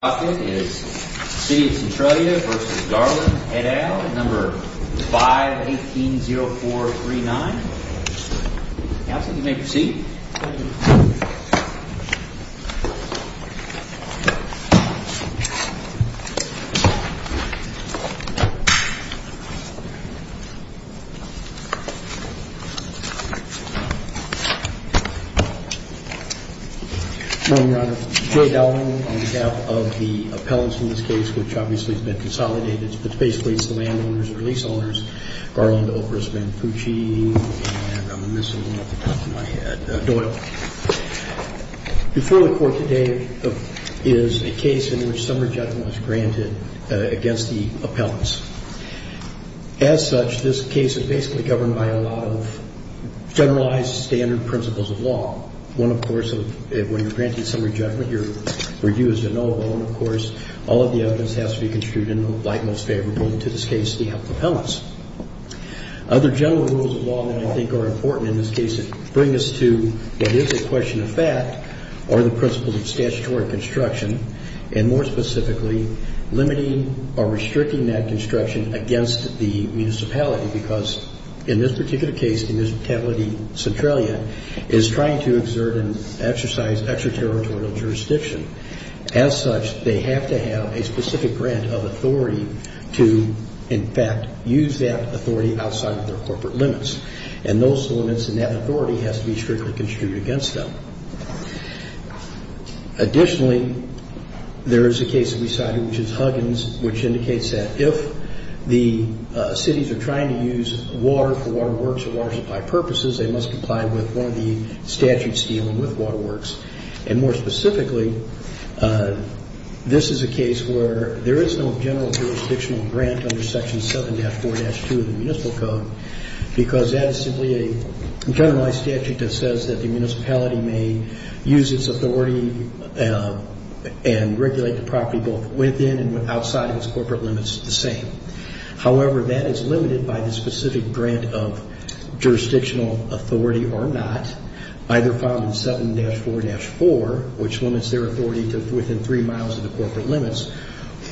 City of Centralia v. Garland, head out, number 518-0439 Council, you may proceed Good morning Your Honor, Joe Dowling on behalf of the appellants in this case which obviously has been consolidated It's basically the land owners or lease owners, Garland, Opris, Manfucci, and I'm missing one off the top of my head, Doyle Before the court today is a case in which some rejectment was granted against the appellants As such, this case is basically governed by a lot of generalized standard principles of law One, of course, when you're granting some rejectment, your review is deniable And, of course, all of the evidence has to be construed in the light most favorable, in this case, the appellants Other general rules of law that I think are important in this case that bring us to what is a question of fact are the principles of statutory construction And, more specifically, limiting or restricting that construction against the municipality Because in this particular case, the municipality, Centralia, is trying to exert and exercise extraterritorial jurisdiction As such, they have to have a specific grant of authority to, in fact, use that authority outside of their corporate limits And those limits and that authority has to be strictly construed against them Additionally, there is a case that we cited, which is Huggins, which indicates that if the cities are trying to use water for waterworks or water supply purposes They must comply with one of the statutes dealing with waterworks And, more specifically, this is a case where there is no general jurisdictional grant under Section 7-4-2 of the Municipal Code Because that is simply a generalized statute that says that the municipality may use its authority and regulate the property both within and outside of its corporate limits the same However, that is limited by the specific grant of jurisdictional authority or not Either found in 7-4-4, which limits their authority to within three miles of the corporate limits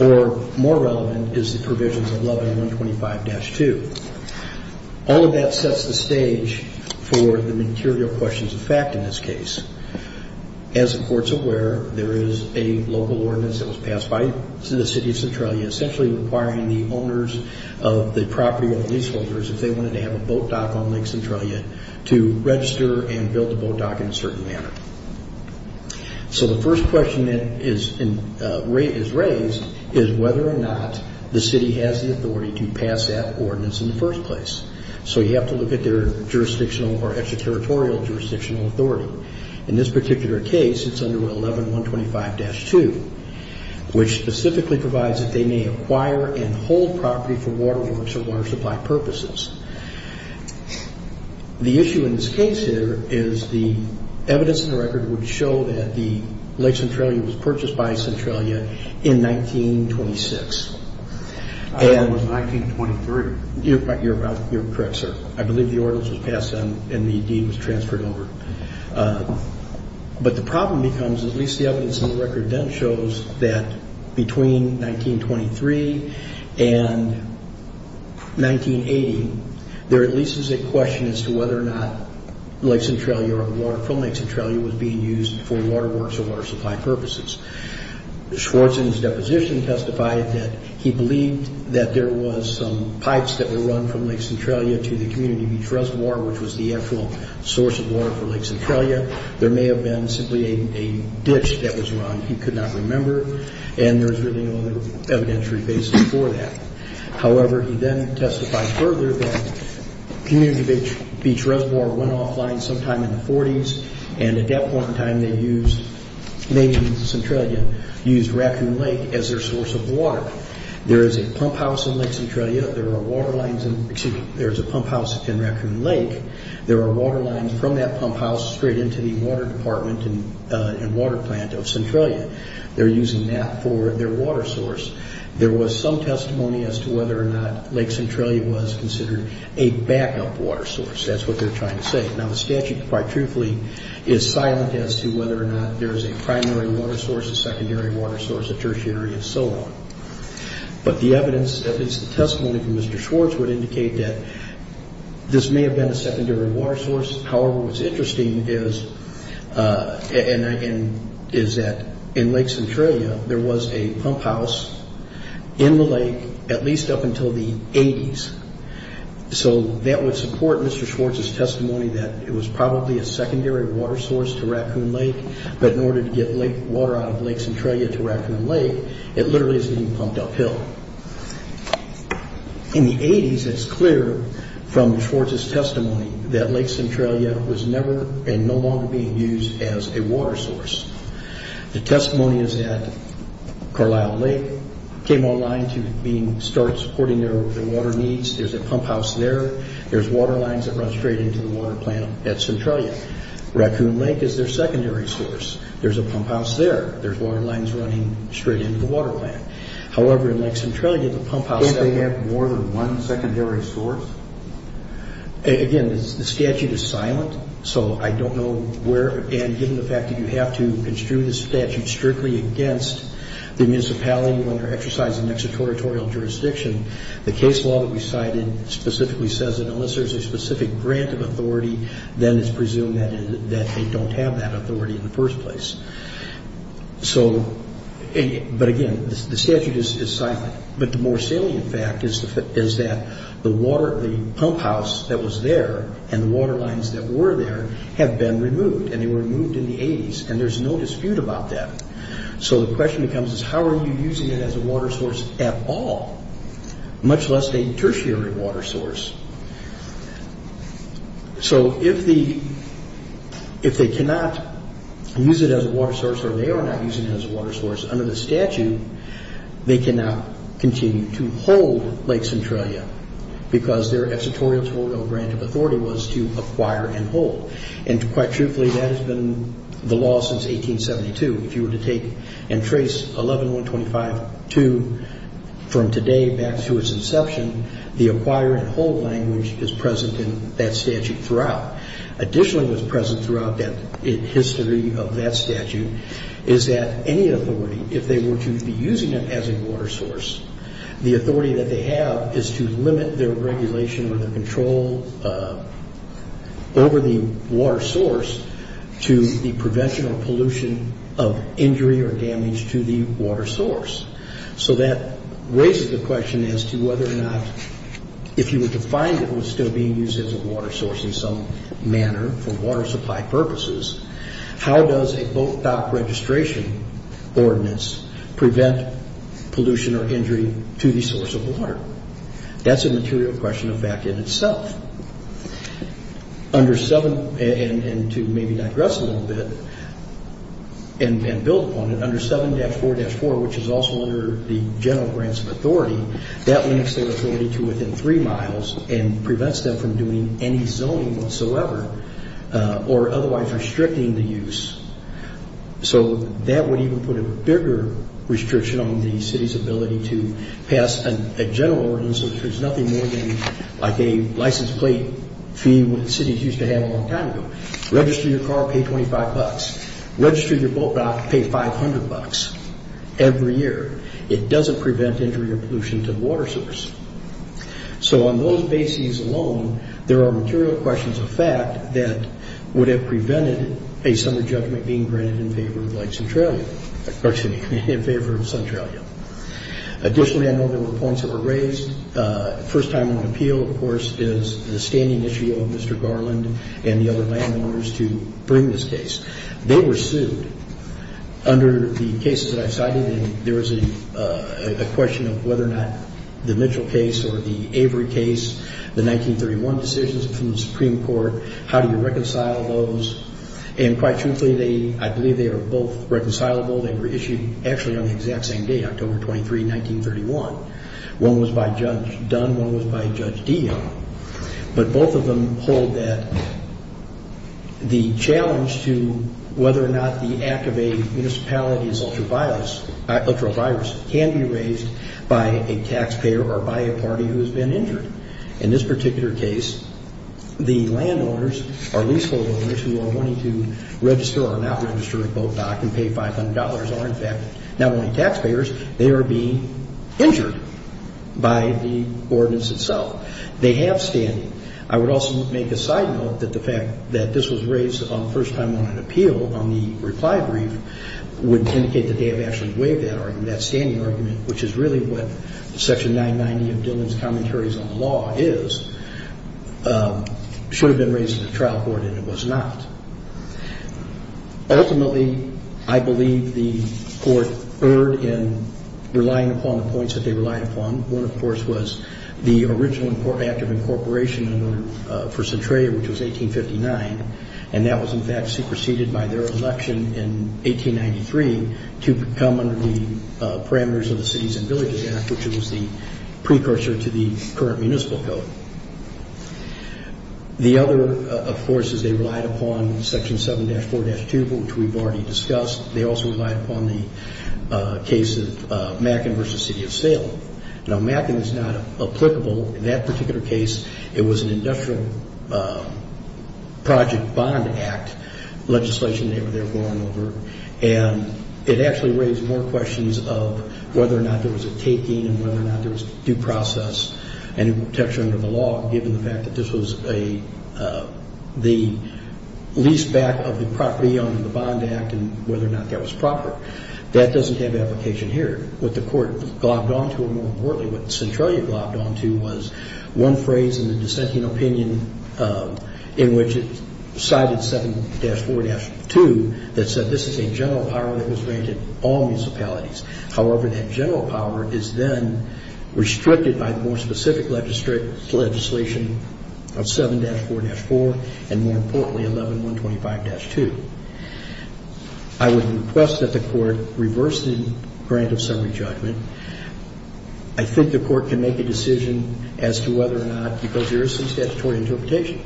Or, more relevant, is the provisions of 11-125-2 All of that sets the stage for the material questions of fact in this case As the Court is aware, there is a local ordinance that was passed by the City of Centralia Essentially requiring the owners of the property or the leaseholders, if they wanted to have a boat dock on Lake Centralia To register and build a boat dock in a certain manner So the first question that is raised is whether or not the city has the authority to pass that ordinance in the first place So you have to look at their jurisdictional or extraterritorial jurisdictional authority In this particular case, it is under 11-125-2 Which specifically provides that they may acquire and hold property for waterworks or water supply purposes The issue in this case here is the evidence in the record would show that the Lake Centralia was purchased by Centralia in 1926 I thought it was 1923 You're correct, sir. I believe the ordinance was passed then and the deed was transferred over But the problem becomes, at least the evidence in the record then shows that between 1923 and 1980 There at least is a question as to whether or not Lake Centralia or water from Lake Centralia was being used for waterworks or water supply purposes Schwartz in his deposition testified that he believed that there was some pipes that were run from Lake Centralia To the Community Beach Reservoir, which was the actual source of water for Lake Centralia There may have been simply a ditch that was run. He could not remember And there was really no evidentiary basis for that However, he then testified further that Community Beach Reservoir went offline sometime in the 40s And at that point in time, they used Lake Centralia, used Raccoon Lake as their source of water There is a pump house in Raccoon Lake. There are water lines from that pump house straight into the water department and water plant of Centralia They're using that for their water source There was some testimony as to whether or not Lake Centralia was considered a backup water source That's what they're trying to say Now the statute, quite truthfully, is silent as to whether or not there is a primary water source, a secondary water source, a tertiary, and so on But the evidence, at least the testimony from Mr. Schwartz, would indicate that this may have been a secondary water source However, what's interesting is that in Lake Centralia, there was a pump house in the lake at least up until the 80s So that would support Mr. Schwartz's testimony that it was probably a secondary water source to Raccoon Lake But in order to get water out of Lake Centralia to Raccoon Lake, it literally is being pumped uphill In the 80s, it's clear from Schwartz's testimony that Lake Centralia was never and no longer being used as a water source The testimony is that Carlisle Lake came online to start supporting their water needs There's a pump house there, there's water lines that run straight into the water plant at Centralia Raccoon Lake is their secondary source There's a pump house there, there's water lines running straight into the water plant However, in Lake Centralia, the pump house... Don't they have more than one secondary source? Again, the statute is silent, so I don't know where... And given the fact that you have to construe the statute strictly against the municipality When they're exercising an extraterritorial jurisdiction The case law that we cited specifically says that unless there's a specific grant of authority Then it's presumed that they don't have that authority in the first place But again, the statute is silent But the more salient fact is that the pump house that was there And the water lines that were there have been removed And they were removed in the 80s, and there's no dispute about that So the question becomes, how are you using it as a water source at all? Much less a tertiary water source So if they cannot use it as a water source, or they are not using it as a water source Under the statute, they cannot continue to hold Lake Centralia Because their extraterritorial grant of authority was to acquire and hold And quite truthfully, that has been the law since 1872 If you were to take and trace 11-125-2 from today back to its inception The acquire and hold language is present in that statute throughout Additionally what's present throughout the history of that statute Is that any authority, if they were to be using it as a water source The authority that they have is to limit their regulation or their control Over the water source to the prevention or pollution of injury or damage to the water source So that raises the question as to whether or not If you were to find it was still being used as a water source in some manner For water supply purposes, how does a boat dock registration ordinance Prevent pollution or injury to the source of water? That's a material question of that in itself Under 7, and to maybe digress a little bit and build upon it Under 7-4-4, which is also under the general grants of authority That limits their authority to within 3 miles And prevents them from doing any zoning whatsoever Or otherwise restricting the use So that would even put a bigger restriction on the city's ability to pass a general ordinance Which is nothing more than like a license plate fee that cities used to have a long time ago Register your car, pay $25 Register your boat dock, pay $500 every year It doesn't prevent injury or pollution to the water source So on those bases alone, there are material questions of fact That would have prevented a summer judgment being granted in favor of Centralia In favor of Centralia Additionally, I know there were points that were raised First time on appeal, of course, is the standing issue of Mr. Garland And the other landowners to bring this case They were sued under the cases that I cited There was a question of whether or not the Mitchell case or the Avery case The 1931 decisions from the Supreme Court How do you reconcile those? And quite truthfully, I believe they are both reconcilable They were issued actually on the exact same day, October 23, 1931 One was by Judge Dunn, one was by Judge Dion But both of them hold that the challenge to whether or not the act of a municipality is ultraviolet Ultraviolet virus can be raised by a taxpayer or by a party who has been injured In this particular case, the landowners or leaseholders Who are wanting to register or not register a boat dock and pay $500 Are in fact not only taxpayers, they are being injured by the ordinance itself They have standing I would also make a side note that the fact that this was raised first time on an appeal On the reply brief would indicate that they have actually waived that argument That standing argument, which is really what Section 990 of Dillon's Commentaries on the Law is Should have been raised at the trial court, and it was not Ultimately, I believe the court erred in relying upon the points that they relied upon One, of course, was the original act of incorporation for Centralia, which was 1859 And that was in fact superseded by their election in 1893 To come under the parameters of the Cities and Villages Act Which was the precursor to the current municipal code The other, of course, is they relied upon Section 7-4-2, which we've already discussed They also relied upon the case of Mackin v. City of Salem Now Mackin is not applicable in that particular case It was an industrial project bond act legislation they were going over And it actually raised more questions of whether or not there was a taking And whether or not there was due process And in protection under the law, given the fact that this was the lease back of the property Under the Bond Act and whether or not that was proper That doesn't have application here What the court glopped onto, or more importantly what Centralia glopped onto Was one phrase in the dissenting opinion in which it cited 7-4-2 That said this is a general power that was granted in all municipalities However, that general power is then restricted by the more specific legislation of 7-4-4 And more importantly 11-125-2 I would request that the court reverse the grant of summary judgment I think the court can make a decision as to whether or not Because there is some statutory interpretation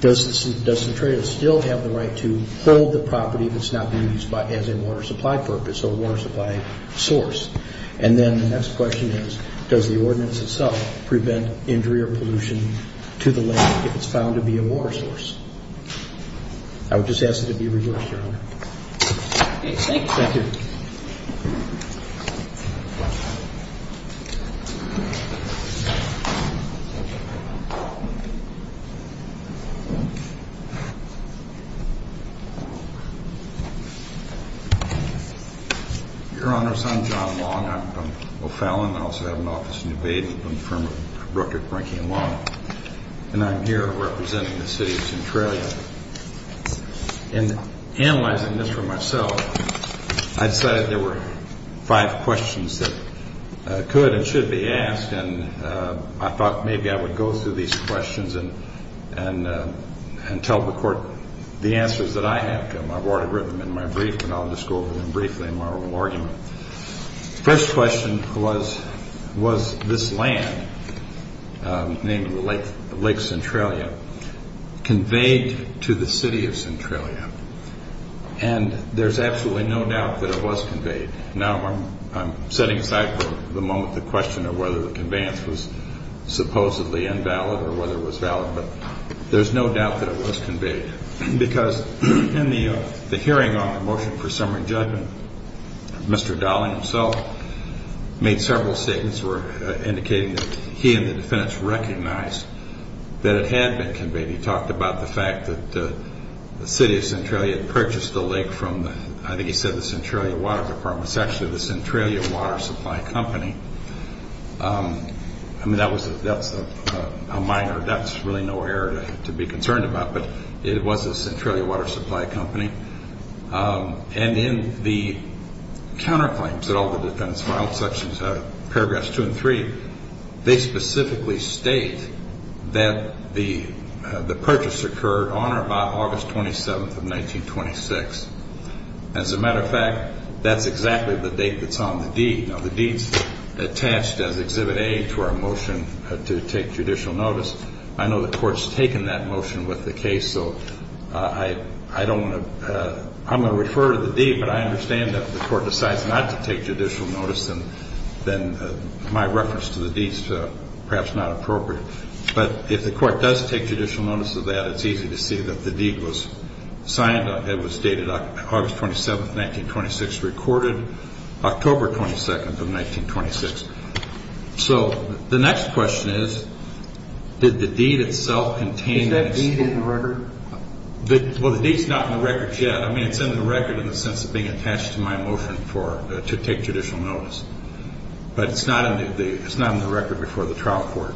Does Centralia still have the right to hold the property if it's not being used as a water supply purpose Or water supply source And then the next question is does the ordinance itself prevent injury or pollution to the land If it's found to be a water source I would just ask that it be reversed, your honor Thank you Your honors, I'm John Long, I'm from O'Fallon I also have an office in New Baden from the firm of Brooker, Brinke and Long And I'm here representing the city of Centralia In analyzing this for myself I decided there were five questions that could and should be asked And I thought maybe I would go through these questions And tell the court the answers that I have I've already written them in my brief And I'll just go over them briefly in my little argument First question was, was this land, named Lake Centralia Conveyed to the city of Centralia And there's absolutely no doubt that it was conveyed Now I'm setting aside for the moment the question of whether the conveyance was supposedly invalid Or whether it was valid But there's no doubt that it was conveyed Because in the hearing on the motion for summary judgment Mr. Dowling himself made several statements Indicating that he and the defendants recognized that it had been conveyed He talked about the fact that the city of Centralia had purchased the lake from I think he said the Centralia Water Department It's actually the Centralia Water Supply Company I mean that was a minor, that's really nowhere to be concerned about But it was the Centralia Water Supply Company And in the counterclaims that all the defendants filed, paragraphs 2 and 3 They specifically state that the purchase occurred on or by August 27th of 1926 As a matter of fact, that's exactly the date that's on the deed Now the deed's attached as Exhibit A to our motion to take judicial notice I know the court's taken that motion with the case So I'm going to refer to the deed But I understand that if the court decides not to take judicial notice Then my reference to the deed's perhaps not appropriate But if the court does take judicial notice of that It's easy to see that the deed was signed It was dated August 27th, 1926 Recorded October 22nd of 1926 So the next question is Did the deed itself contain Is that deed in the record? Well the deed's not in the record yet I mean it's in the record in the sense of being attached to my motion to take judicial notice But it's not in the record before the trial court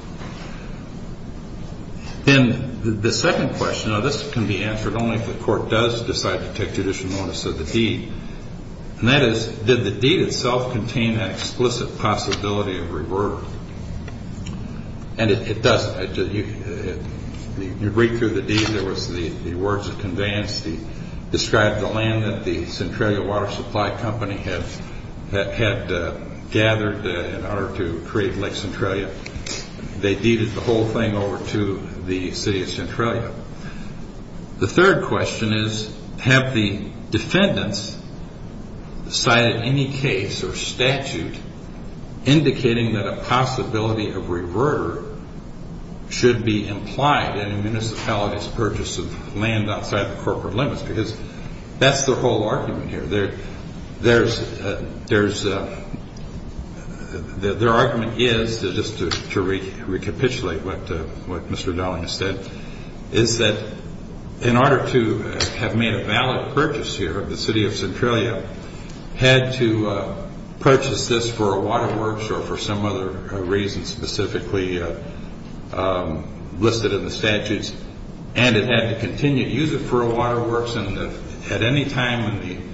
Then the second question Now this can be answered only if the court does decide to take judicial notice of the deed And that is, did the deed itself contain an explicit possibility of revert? And it doesn't You read through the deed, there was the words of conveyance Described the land that the Centralia Water Supply Company had gathered in order to create Lake Centralia They deeded the whole thing over to the city of Centralia The third question is Have the defendants cited any case or statute Indicating that a possibility of reverter Should be implied in a municipality's purchase of land outside the corporate limits Because that's their whole argument here Their argument is, just to recapitulate what Mr. Darling has said Is that in order to have made a valid purchase here of the city of Centralia Had to purchase this for a waterworks or for some other reason specifically listed in the statutes And it had to continue to use it for a waterworks And at any time in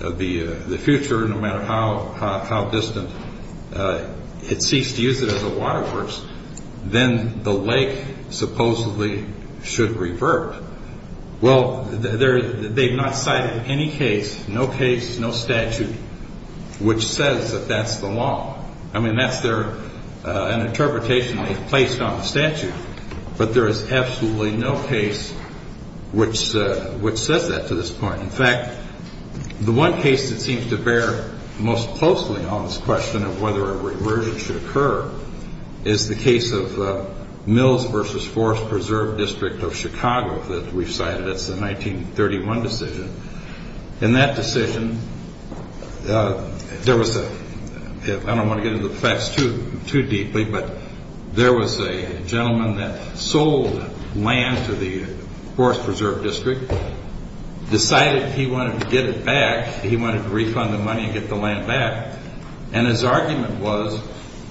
the future, no matter how distant It ceased to use it as a waterworks Then the lake supposedly should revert Well, they've not cited any case, no case, no statute Which says that that's the law I mean, that's their interpretation they've placed on the statute But there is absolutely no case which says that to this point In fact, the one case that seems to bear most closely on this question of whether a reversion should occur Is the case of Mills versus Forest Preserve District of Chicago That we've cited, that's the 1931 decision In that decision, there was a I don't want to get into the facts too deeply But there was a gentleman that sold land to the Forest Preserve District Decided he wanted to get it back He wanted to refund the money and get the land back And his argument was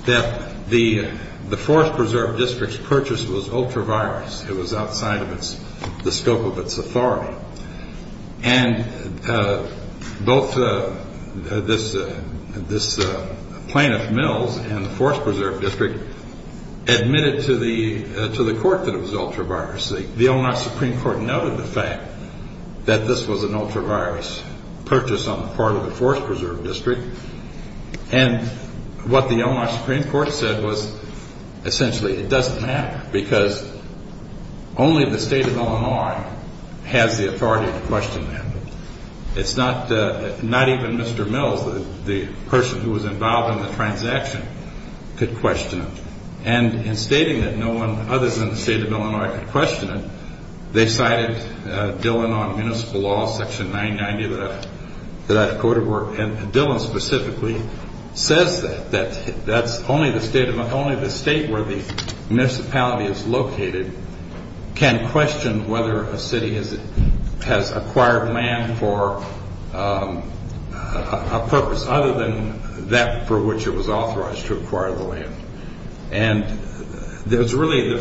that the Forest Preserve District's purchase was ultra-virus It was outside of the scope of its authority And both this plaintiff, Mills, and the Forest Preserve District Admitted to the court that it was ultra-virus The Onox Supreme Court noted the fact that this was an ultra-virus purchase On the part of the Forest Preserve District And what the Onox Supreme Court said was Essentially, it doesn't matter Because only the State of Illinois has the authority to question that It's not even Mr. Mills, the person who was involved in the transaction, could question it And in stating that no one other than the State of Illinois could question it They cited Dillon on Municipal Law, Section 990 That I've quoted work And Dillon specifically says that That only the State where the municipality is located Can question whether a city has acquired land for a purpose Other than that for which it was authorized to acquire the land And there's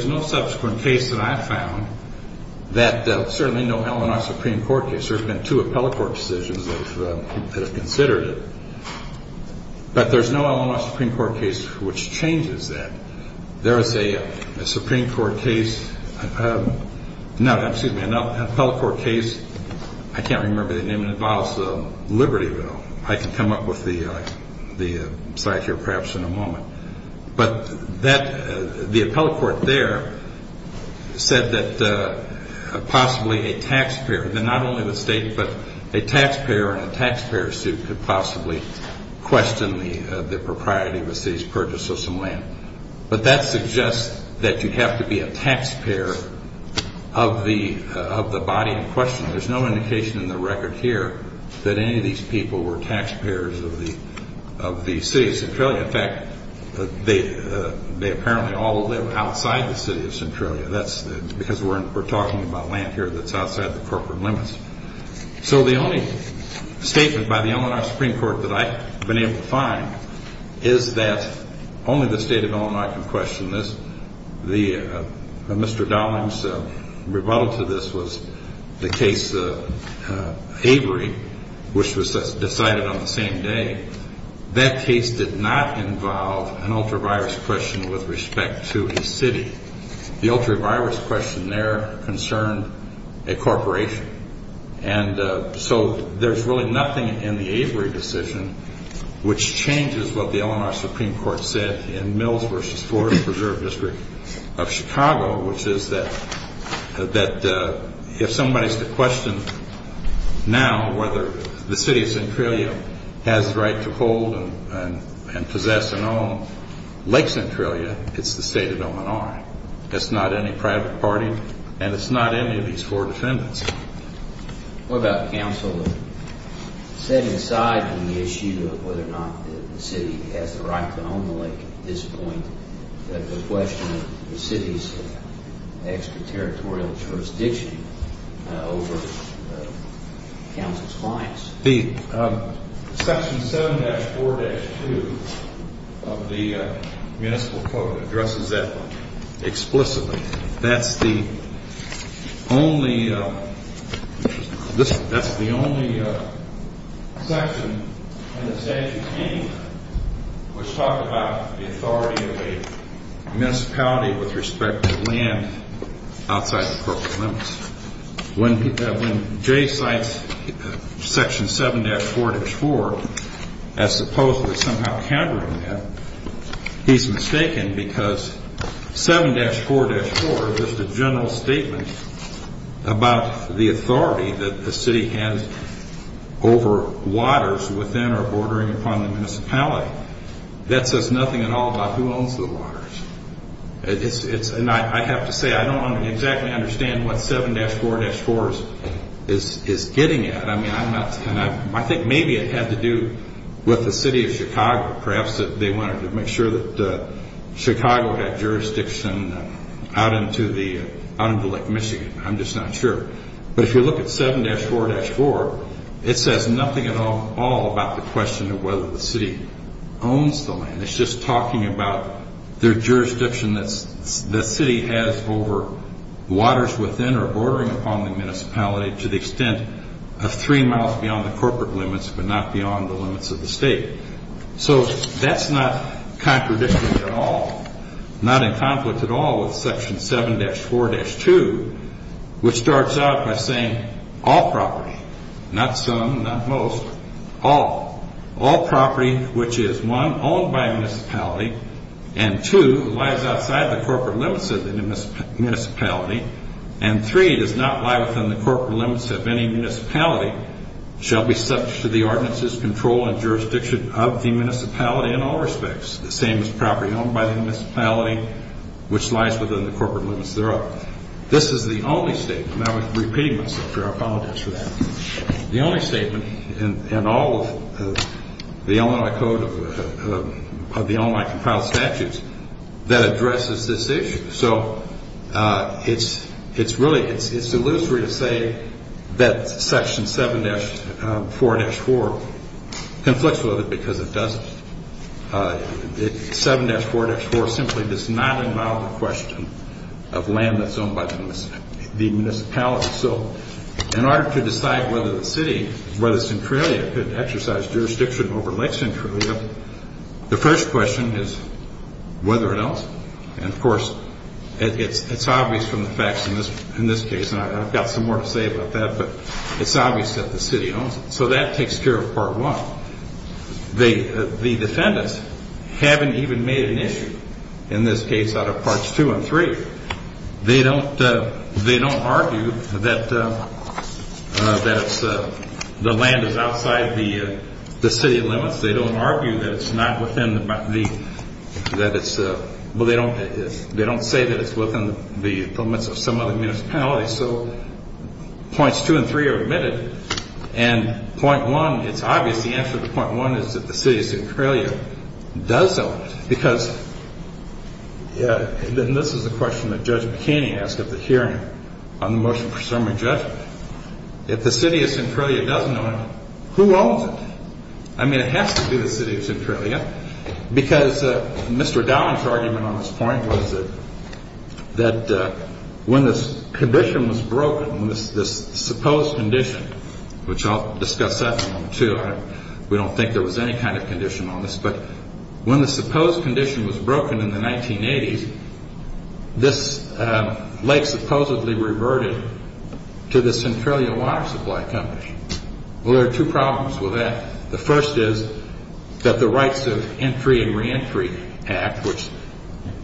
no subsequent case that I've found That certainly no Onox Supreme Court case There have been two appellate court decisions that have considered it But there's no Onox Supreme Court case which changes that There is a Supreme Court case No, excuse me, an appellate court case I can't remember the name, it involves the Liberty Bill I can come up with the site here perhaps in a moment But the appellate court there Said that possibly a taxpayer Then not only the State, but a taxpayer in a taxpayer suit Could possibly question the propriety of a city's purchase of some land But that suggests that you have to be a taxpayer Of the body in question There's no indication in the record here That any of these people were taxpayers of the City of Centralia In fact, they apparently all live outside the City of Centralia That's because we're talking about land here that's outside the corporate limits So the only statement by the Onox Supreme Court that I've been able to find Is that only the State of Illinois can question this Mr. Dowling's rebuttal to this was the case of Avery Which was decided on the same day That case did not involve an ultra-virus question with respect to a city The ultra-virus question there concerned a corporation And so there's really nothing in the Avery decision Which changes what the Onox Supreme Court said In Mills v. Ford Preserve District of Chicago Which is that if somebody's to question now Whether the City of Centralia has the right to hold and possess And own Lake Centralia It's the State of Illinois It's not any private party And it's not any of these four defendants What about counsel setting aside the issue Of whether or not the city has the right to own the lake At this point the question of the city's extraterritorial jurisdiction Over counsel's clients Section 7-4-2 of the municipal code addresses that explicitly That's the only section in the statute anyway Which talks about the authority of a municipality with respect to land Outside the corporate limits When Jay cites section 7-4-4 As supposedly somehow countering that He's mistaken because 7-4-4 is the general statement About the authority that the city has Over waters within or bordering upon the municipality That says nothing at all about who owns the waters I have to say I don't exactly understand what 7-4-4 is getting at I think maybe it had to do with the City of Chicago Perhaps they wanted to make sure that Chicago had jurisdiction Out into Lake Michigan I'm just not sure But if you look at 7-4-4 It says nothing at all about the question of whether the city owns the land It's just talking about the jurisdiction that the city has Over waters within or bordering upon the municipality To the extent of three miles beyond the corporate limits But not beyond the limits of the state So that's not contradictory at all Not in conflict at all with section 7-4-2 Which starts out by saying all property Not some, not most All All property which is One, owned by a municipality And two, lies outside the corporate limits of the municipality And three, does not lie within the corporate limits of any municipality Shall be subject to the ordinances, control and jurisdiction of the municipality in all respects The same as property owned by the municipality Which lies within the corporate limits thereof This is the only statement And I'm repeating myself here, I apologize for that The only statement in all of the Illinois Code Of the Illinois Compiled Statutes That addresses this issue So it's really, it's illusory to say That section 7-4-4 Conflicts with it because it doesn't 7-4-4 simply does not involve the question Of land that's owned by the municipality So in order to decide whether the city Whether Centralia could exercise jurisdiction over Lake Centralia The first question is whether it owns it And of course it's obvious from the facts in this case And I've got some more to say about that But it's obvious that the city owns it So that takes care of part one The defendants haven't even made an issue In this case out of parts two and three They don't argue that the land is outside the city limits They don't argue that it's not within the They don't say that it's within the limits of some other municipalities So points two and three are admitted And point one, it's obvious the answer to point one Is that the city of Centralia does own it Because, and this is the question that Judge McKinney asked At the hearing on the motion for summary judgment If the city of Centralia doesn't own it, who owns it? I mean it has to be the city of Centralia Because Mr. Dowling's argument on this point was That when the condition was broken This supposed condition, which I'll discuss that one too We don't think there was any kind of condition on this But when the supposed condition was broken in the 1980s This lake supposedly reverted to the Centralia Water Supply Company Well there are two problems with that The first is that the Rights of Entry and Reentry Act Which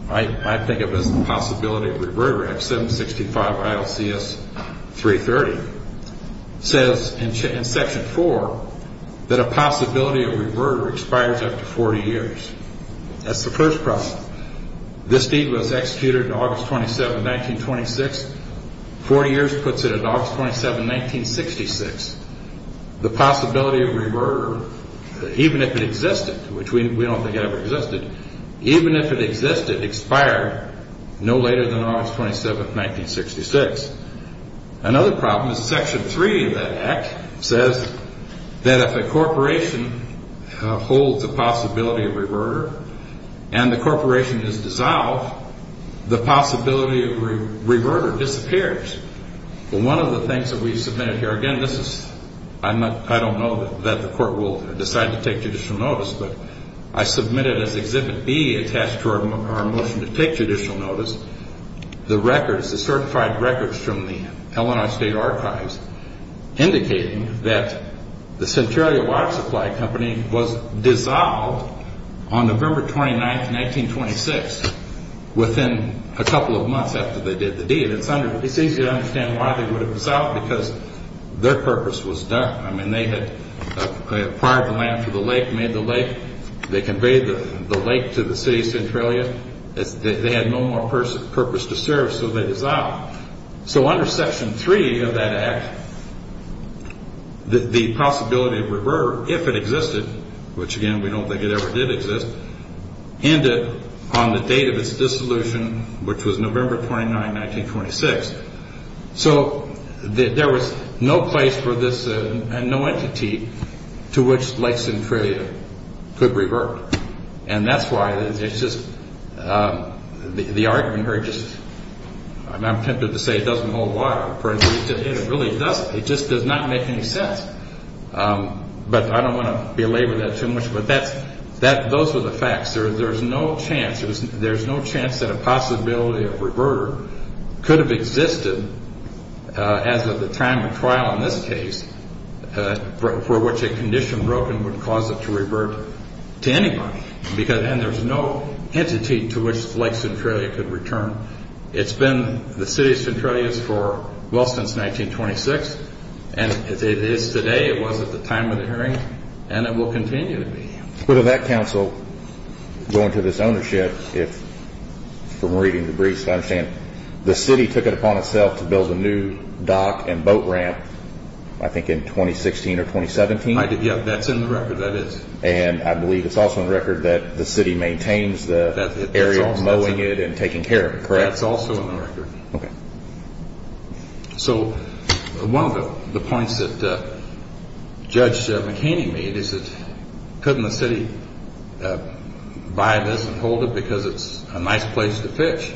I think of as the Possibility of Reverter Act 765 ILCS 330 Says in section 4 that a possibility of reverter expires after 40 years That's the first problem This deed was executed August 27, 1926 40 years puts it at August 27, 1966 The possibility of reverter, even if it existed Which we don't think it ever existed Even if it existed, expired no later than August 27, 1966 Another problem is section 3 of that act Says that if a corporation holds a possibility of reverter And the corporation is dissolved The possibility of reverter disappears Well one of the things that we submitted here Again this is, I don't know that the court will decide to take judicial notice But I submitted as Exhibit B attached to our motion to take judicial notice The records, the certified records from the Illinois State Archives Indicating that the Centralia Water Supply Company Was dissolved on November 29, 1926 Within a couple of months after they did the deed It's easy to understand why they would have dissolved Because their purpose was done I mean they had acquired the land for the lake, made the lake They conveyed the lake to the city of Centralia They had no more purpose to serve so they dissolved So under section 3 of that act The possibility of reverter, if it existed Which again we don't think it ever did exist Ended on the date of its dissolution Which was November 29, 1926 So there was no place for this and no entity To which Lake Centralia could revert And that's why it's just, the argument here I'm tempted to say it doesn't hold water It really doesn't, it just does not make any sense But I don't want to belabor that too much But those were the facts, there's no chance There's no chance that a possibility of reverter Could have existed as of the time of trial in this case For which a condition broken would cause it to revert To anybody, because then there's no entity To which Lake Centralia could return It's been the city of Centralia for well since 1926 And it is today, it was at the time of the hearing And it will continue to be With that council going to this ownership From reading the briefs I understand The city took it upon itself to build a new dock and boat ramp I think in 2016 or 2017 That's in the record, that is And I believe it's also in the record that the city maintains The area of mowing it and taking care of it, correct? That's also in the record So one of the points that Judge McHaney made Is that couldn't the city buy this and hold it Because it's a nice place to pitch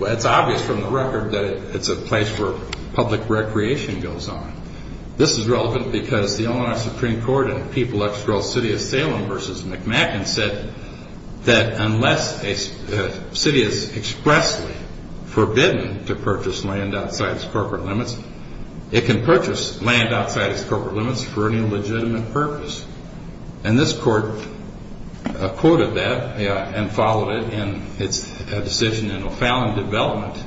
It's obvious from the record that it's a place Where public recreation goes on This is relevant because the Illinois Supreme Court In People X Girl City of Salem vs. McMackin said That unless a city is expressly forbidden To purchase land outside its corporate limits It can purchase land outside its corporate limits For any legitimate purpose And this court quoted that and followed it And it's a decision in O'Fallon Development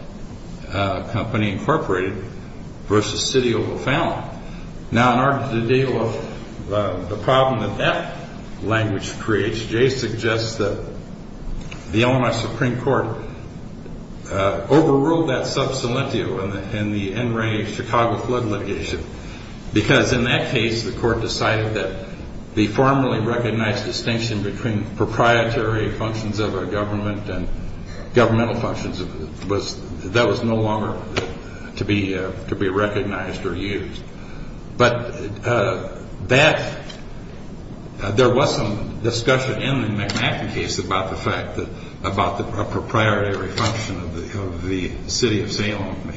Company Incorporated vs. City of O'Fallon Now in order to deal with the problem that that language creates Jay suggests that the Illinois Supreme Court Overruled that sub salentio in the NRA Chicago flood litigation Because in that case the court decided that The formally recognized distinction between Proprietary functions of a government and governmental functions That was no longer to be recognized or used But there was some discussion in the McMackin case About the fact that a proprietary function Of the city of Salem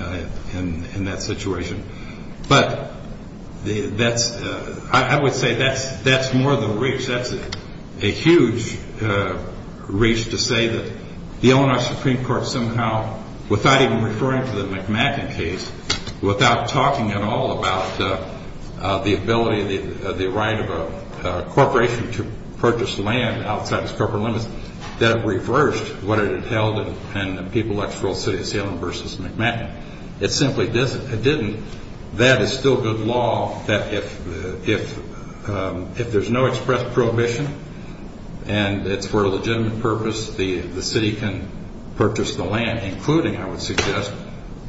in that situation But I would say that's more the reach That's a huge reach to say that The Illinois Supreme Court somehow Without even referring to the McMackin case Without talking at all about the ability The right of a corporation to purchase land Outside its corporate limits That reversed what it had held In the People X Girl City of Salem vs. McMackin It simply didn't That is still good law That if there's no express prohibition And it's for a legitimate purpose The city can purchase the land Including I would suggest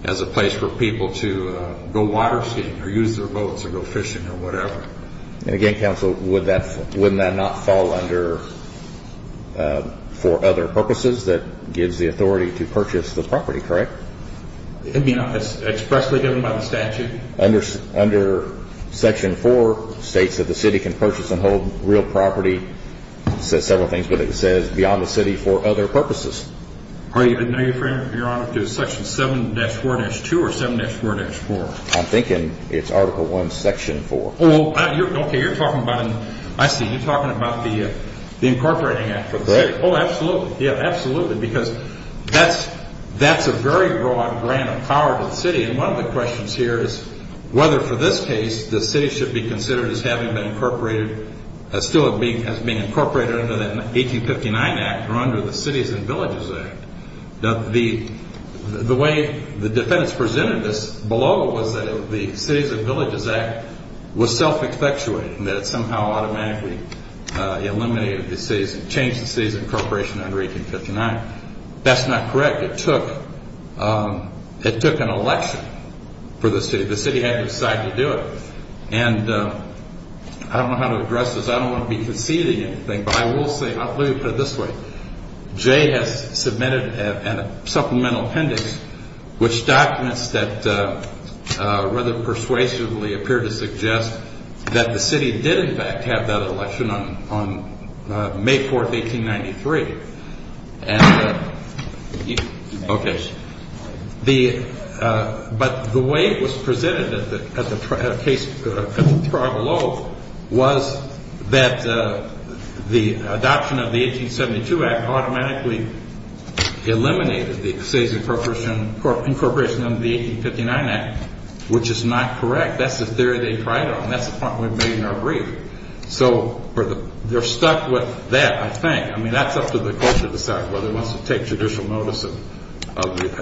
As a place for people to go water skating Or use their boats or go fishing or whatever And again counsel Wouldn't that not fall under For other purposes that gives the authority To purchase the property, correct? I mean expressly given by the statute Under section 4 States that the city can purchase and hold real property It says several things But it says beyond the city for other purposes Are you referring to section 7-4-2 or 7-4-4? I'm thinking it's article 1 section 4 Okay you're talking about I see you're talking about the incorporating act Correct Oh absolutely Because that's a very broad grant of power to the city And one of the questions here is Whether for this case the city should be considered As having been incorporated As still being incorporated under the 1859 act Or under the cities and villages act The way the defendants presented this below Was that the cities and villages act Was self-expectuating That it somehow automatically Eliminated the cities And changed the cities incorporation under 1859 That's not correct It took an election for the city The city had to decide to do it I don't know how to address this I don't want to be conceding anything But I will say Let me put it this way Jay has submitted a supplemental appendix Which documents that Rather persuasively appear to suggest That the city did in fact have that election On May 4th 1893 But the way it was presented At the trial below Was that the adoption of the 1872 act Automatically eliminated the cities incorporation Under the 1859 act Which is not correct That's the theory they tried on That's the point we made in our brief So they're stuck with that I think That's up to the court to decide Whether it wants to take judicial notice Of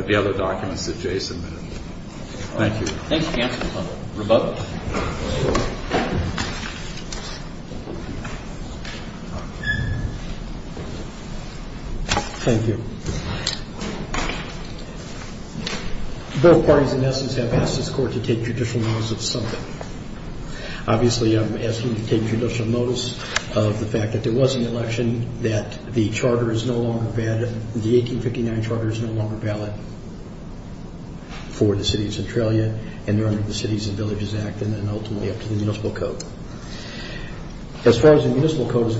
the other documents that Jay submitted Thank you Thanks counsel Rebut Thank you Both parties in essence have asked this court To take judicial notice of something Obviously I'm asking you to take judicial notice Of the fact that there was an election That the charter is no longer valid The 1859 charter is no longer valid For the city of Centralia And under the cities and villages act And ultimately up to the municipal code As far as the municipal code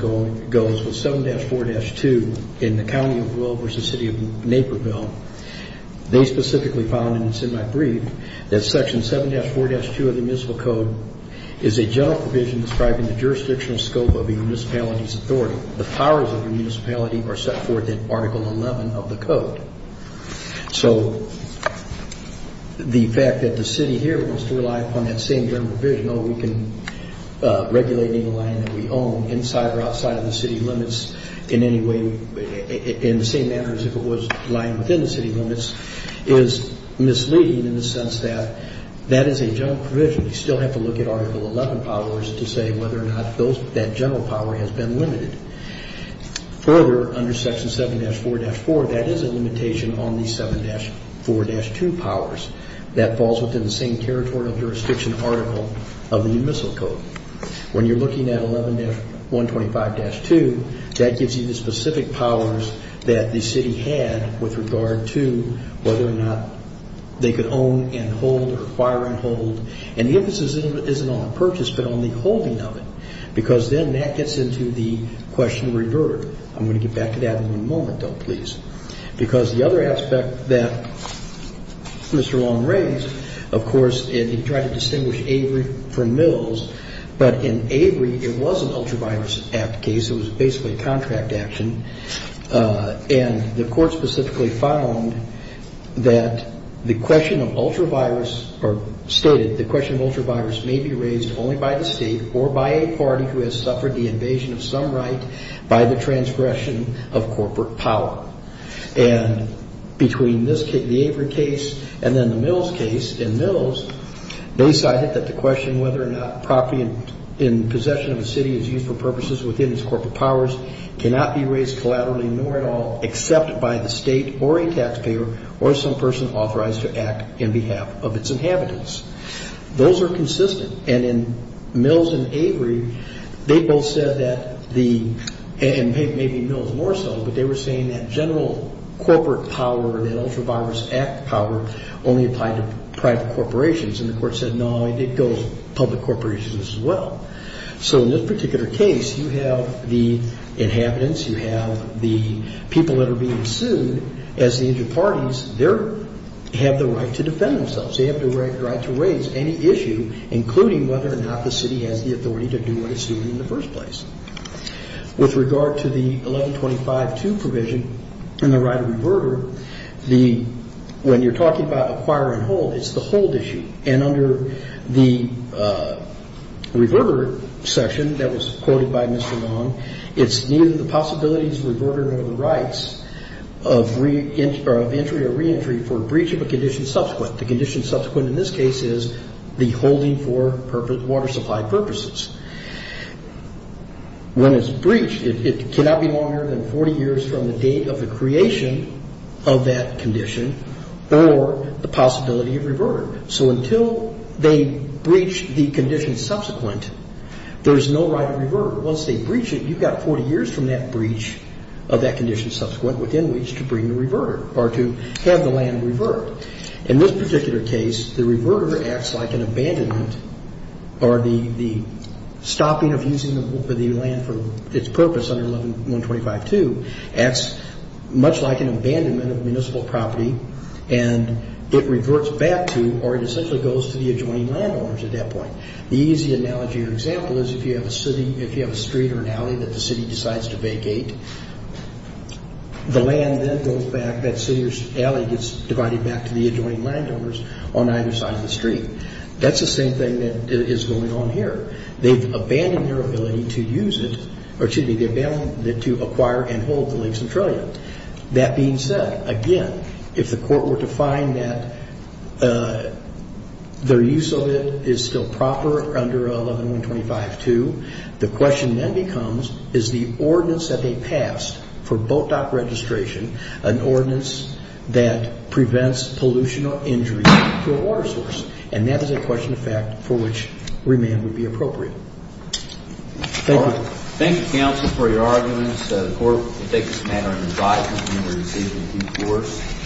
goes With 7-4-2 in the county of Will Versus the city of Naperville They specifically found and it's in my brief That section 7-4-2 of the municipal code Is a general provision describing The jurisdictional scope of a municipality's authority The powers of the municipality Are set forth in article 11 of the code So the fact that the city here Wants to rely upon that same general provision All we can regulate in the land that we own Inside or outside of the city limits In any way in the same manner As if it was lying within the city limits Is misleading in the sense that That is a general provision We still have to look at article 11 powers To say whether or not that general power Has been limited Further under section 7-4-4 That is a limitation on the 7-4-2 powers That falls within the same territorial jurisdiction article Of the municipal code When you're looking at 11-125-2 That gives you the specific powers That the city had with regard to Whether or not they could own and hold Or acquire and hold And the emphasis isn't on the purchase But on the holding of it Because then that gets into the question reverted I'm going to get back to that in a moment though please Because the other aspect that Mr. Long raised Of course he tried to distinguish Avery from Mills But in Avery it was an ultra-virus act case It was basically a contract action And the court specifically found That the question of ultra-virus Or stated the question of ultra-virus May be raised only by the state Or by a party who has suffered the invasion of some right By the transgression of corporate power And between the Avery case And then the Mills case In Mills they cited that the question Whether or not property in possession of a city Is used for purposes within its corporate powers Cannot be raised collaterally nor at all Except by the state or a taxpayer Or some person authorized to act In behalf of its inhabitants Those are consistent And in Mills and Avery They both said that the And maybe Mills more so But they were saying that general corporate power That ultra-virus act power Only applied to private corporations And the court said no It goes public corporations as well So in this particular case You have the inhabitants You have the people that are being sued As the inter-parties They have the right to defend themselves They have the right to raise any issue Including whether or not the city has the authority To do what it's doing in the first place With regard to the 1125-2 provision And the right of reverter When you're talking about acquire and hold It's the hold issue And under the reverter section That was quoted by Mr. Long It's neither the possibilities of reverter Nor the rights of entry or re-entry For breach of a condition subsequent The condition subsequent in this case is The holding for water supply purposes When it's breached It cannot be longer than 40 years From the date of the creation of that condition Or the possibility of reverter So until they breach the condition subsequent There's no right of reverter Once they breach it You've got 40 years from that breach Of that condition subsequent Within which to bring the reverter Or to have the land revert In this particular case The reverter acts like an abandonment Or the stopping of using the land For its purpose under 1125-2 Acts much like an abandonment of municipal property And it reverts back to Or it essentially goes to the adjoining landowners At that point The easy analogy or example is If you have a city If you have a street or an alley That the city decides to vacate The land then goes back That city or alley gets divided back To the adjoining landowners On either side of the street That's the same thing that is going on here They've abandoned their ability to use it Or excuse me They've abandoned it to acquire And hold the lakes and trillia That being said Again If the court were to find that Their use of it is still proper Under 1125-2 The question then becomes Is the ordinance that they passed For boat dock registration An ordinance that prevents Pollution or injury to a water source And that is a question of fact For which remand would be appropriate Thank you Thank you counsel for your arguments The court will take this matter into its eyes When we receive the deforce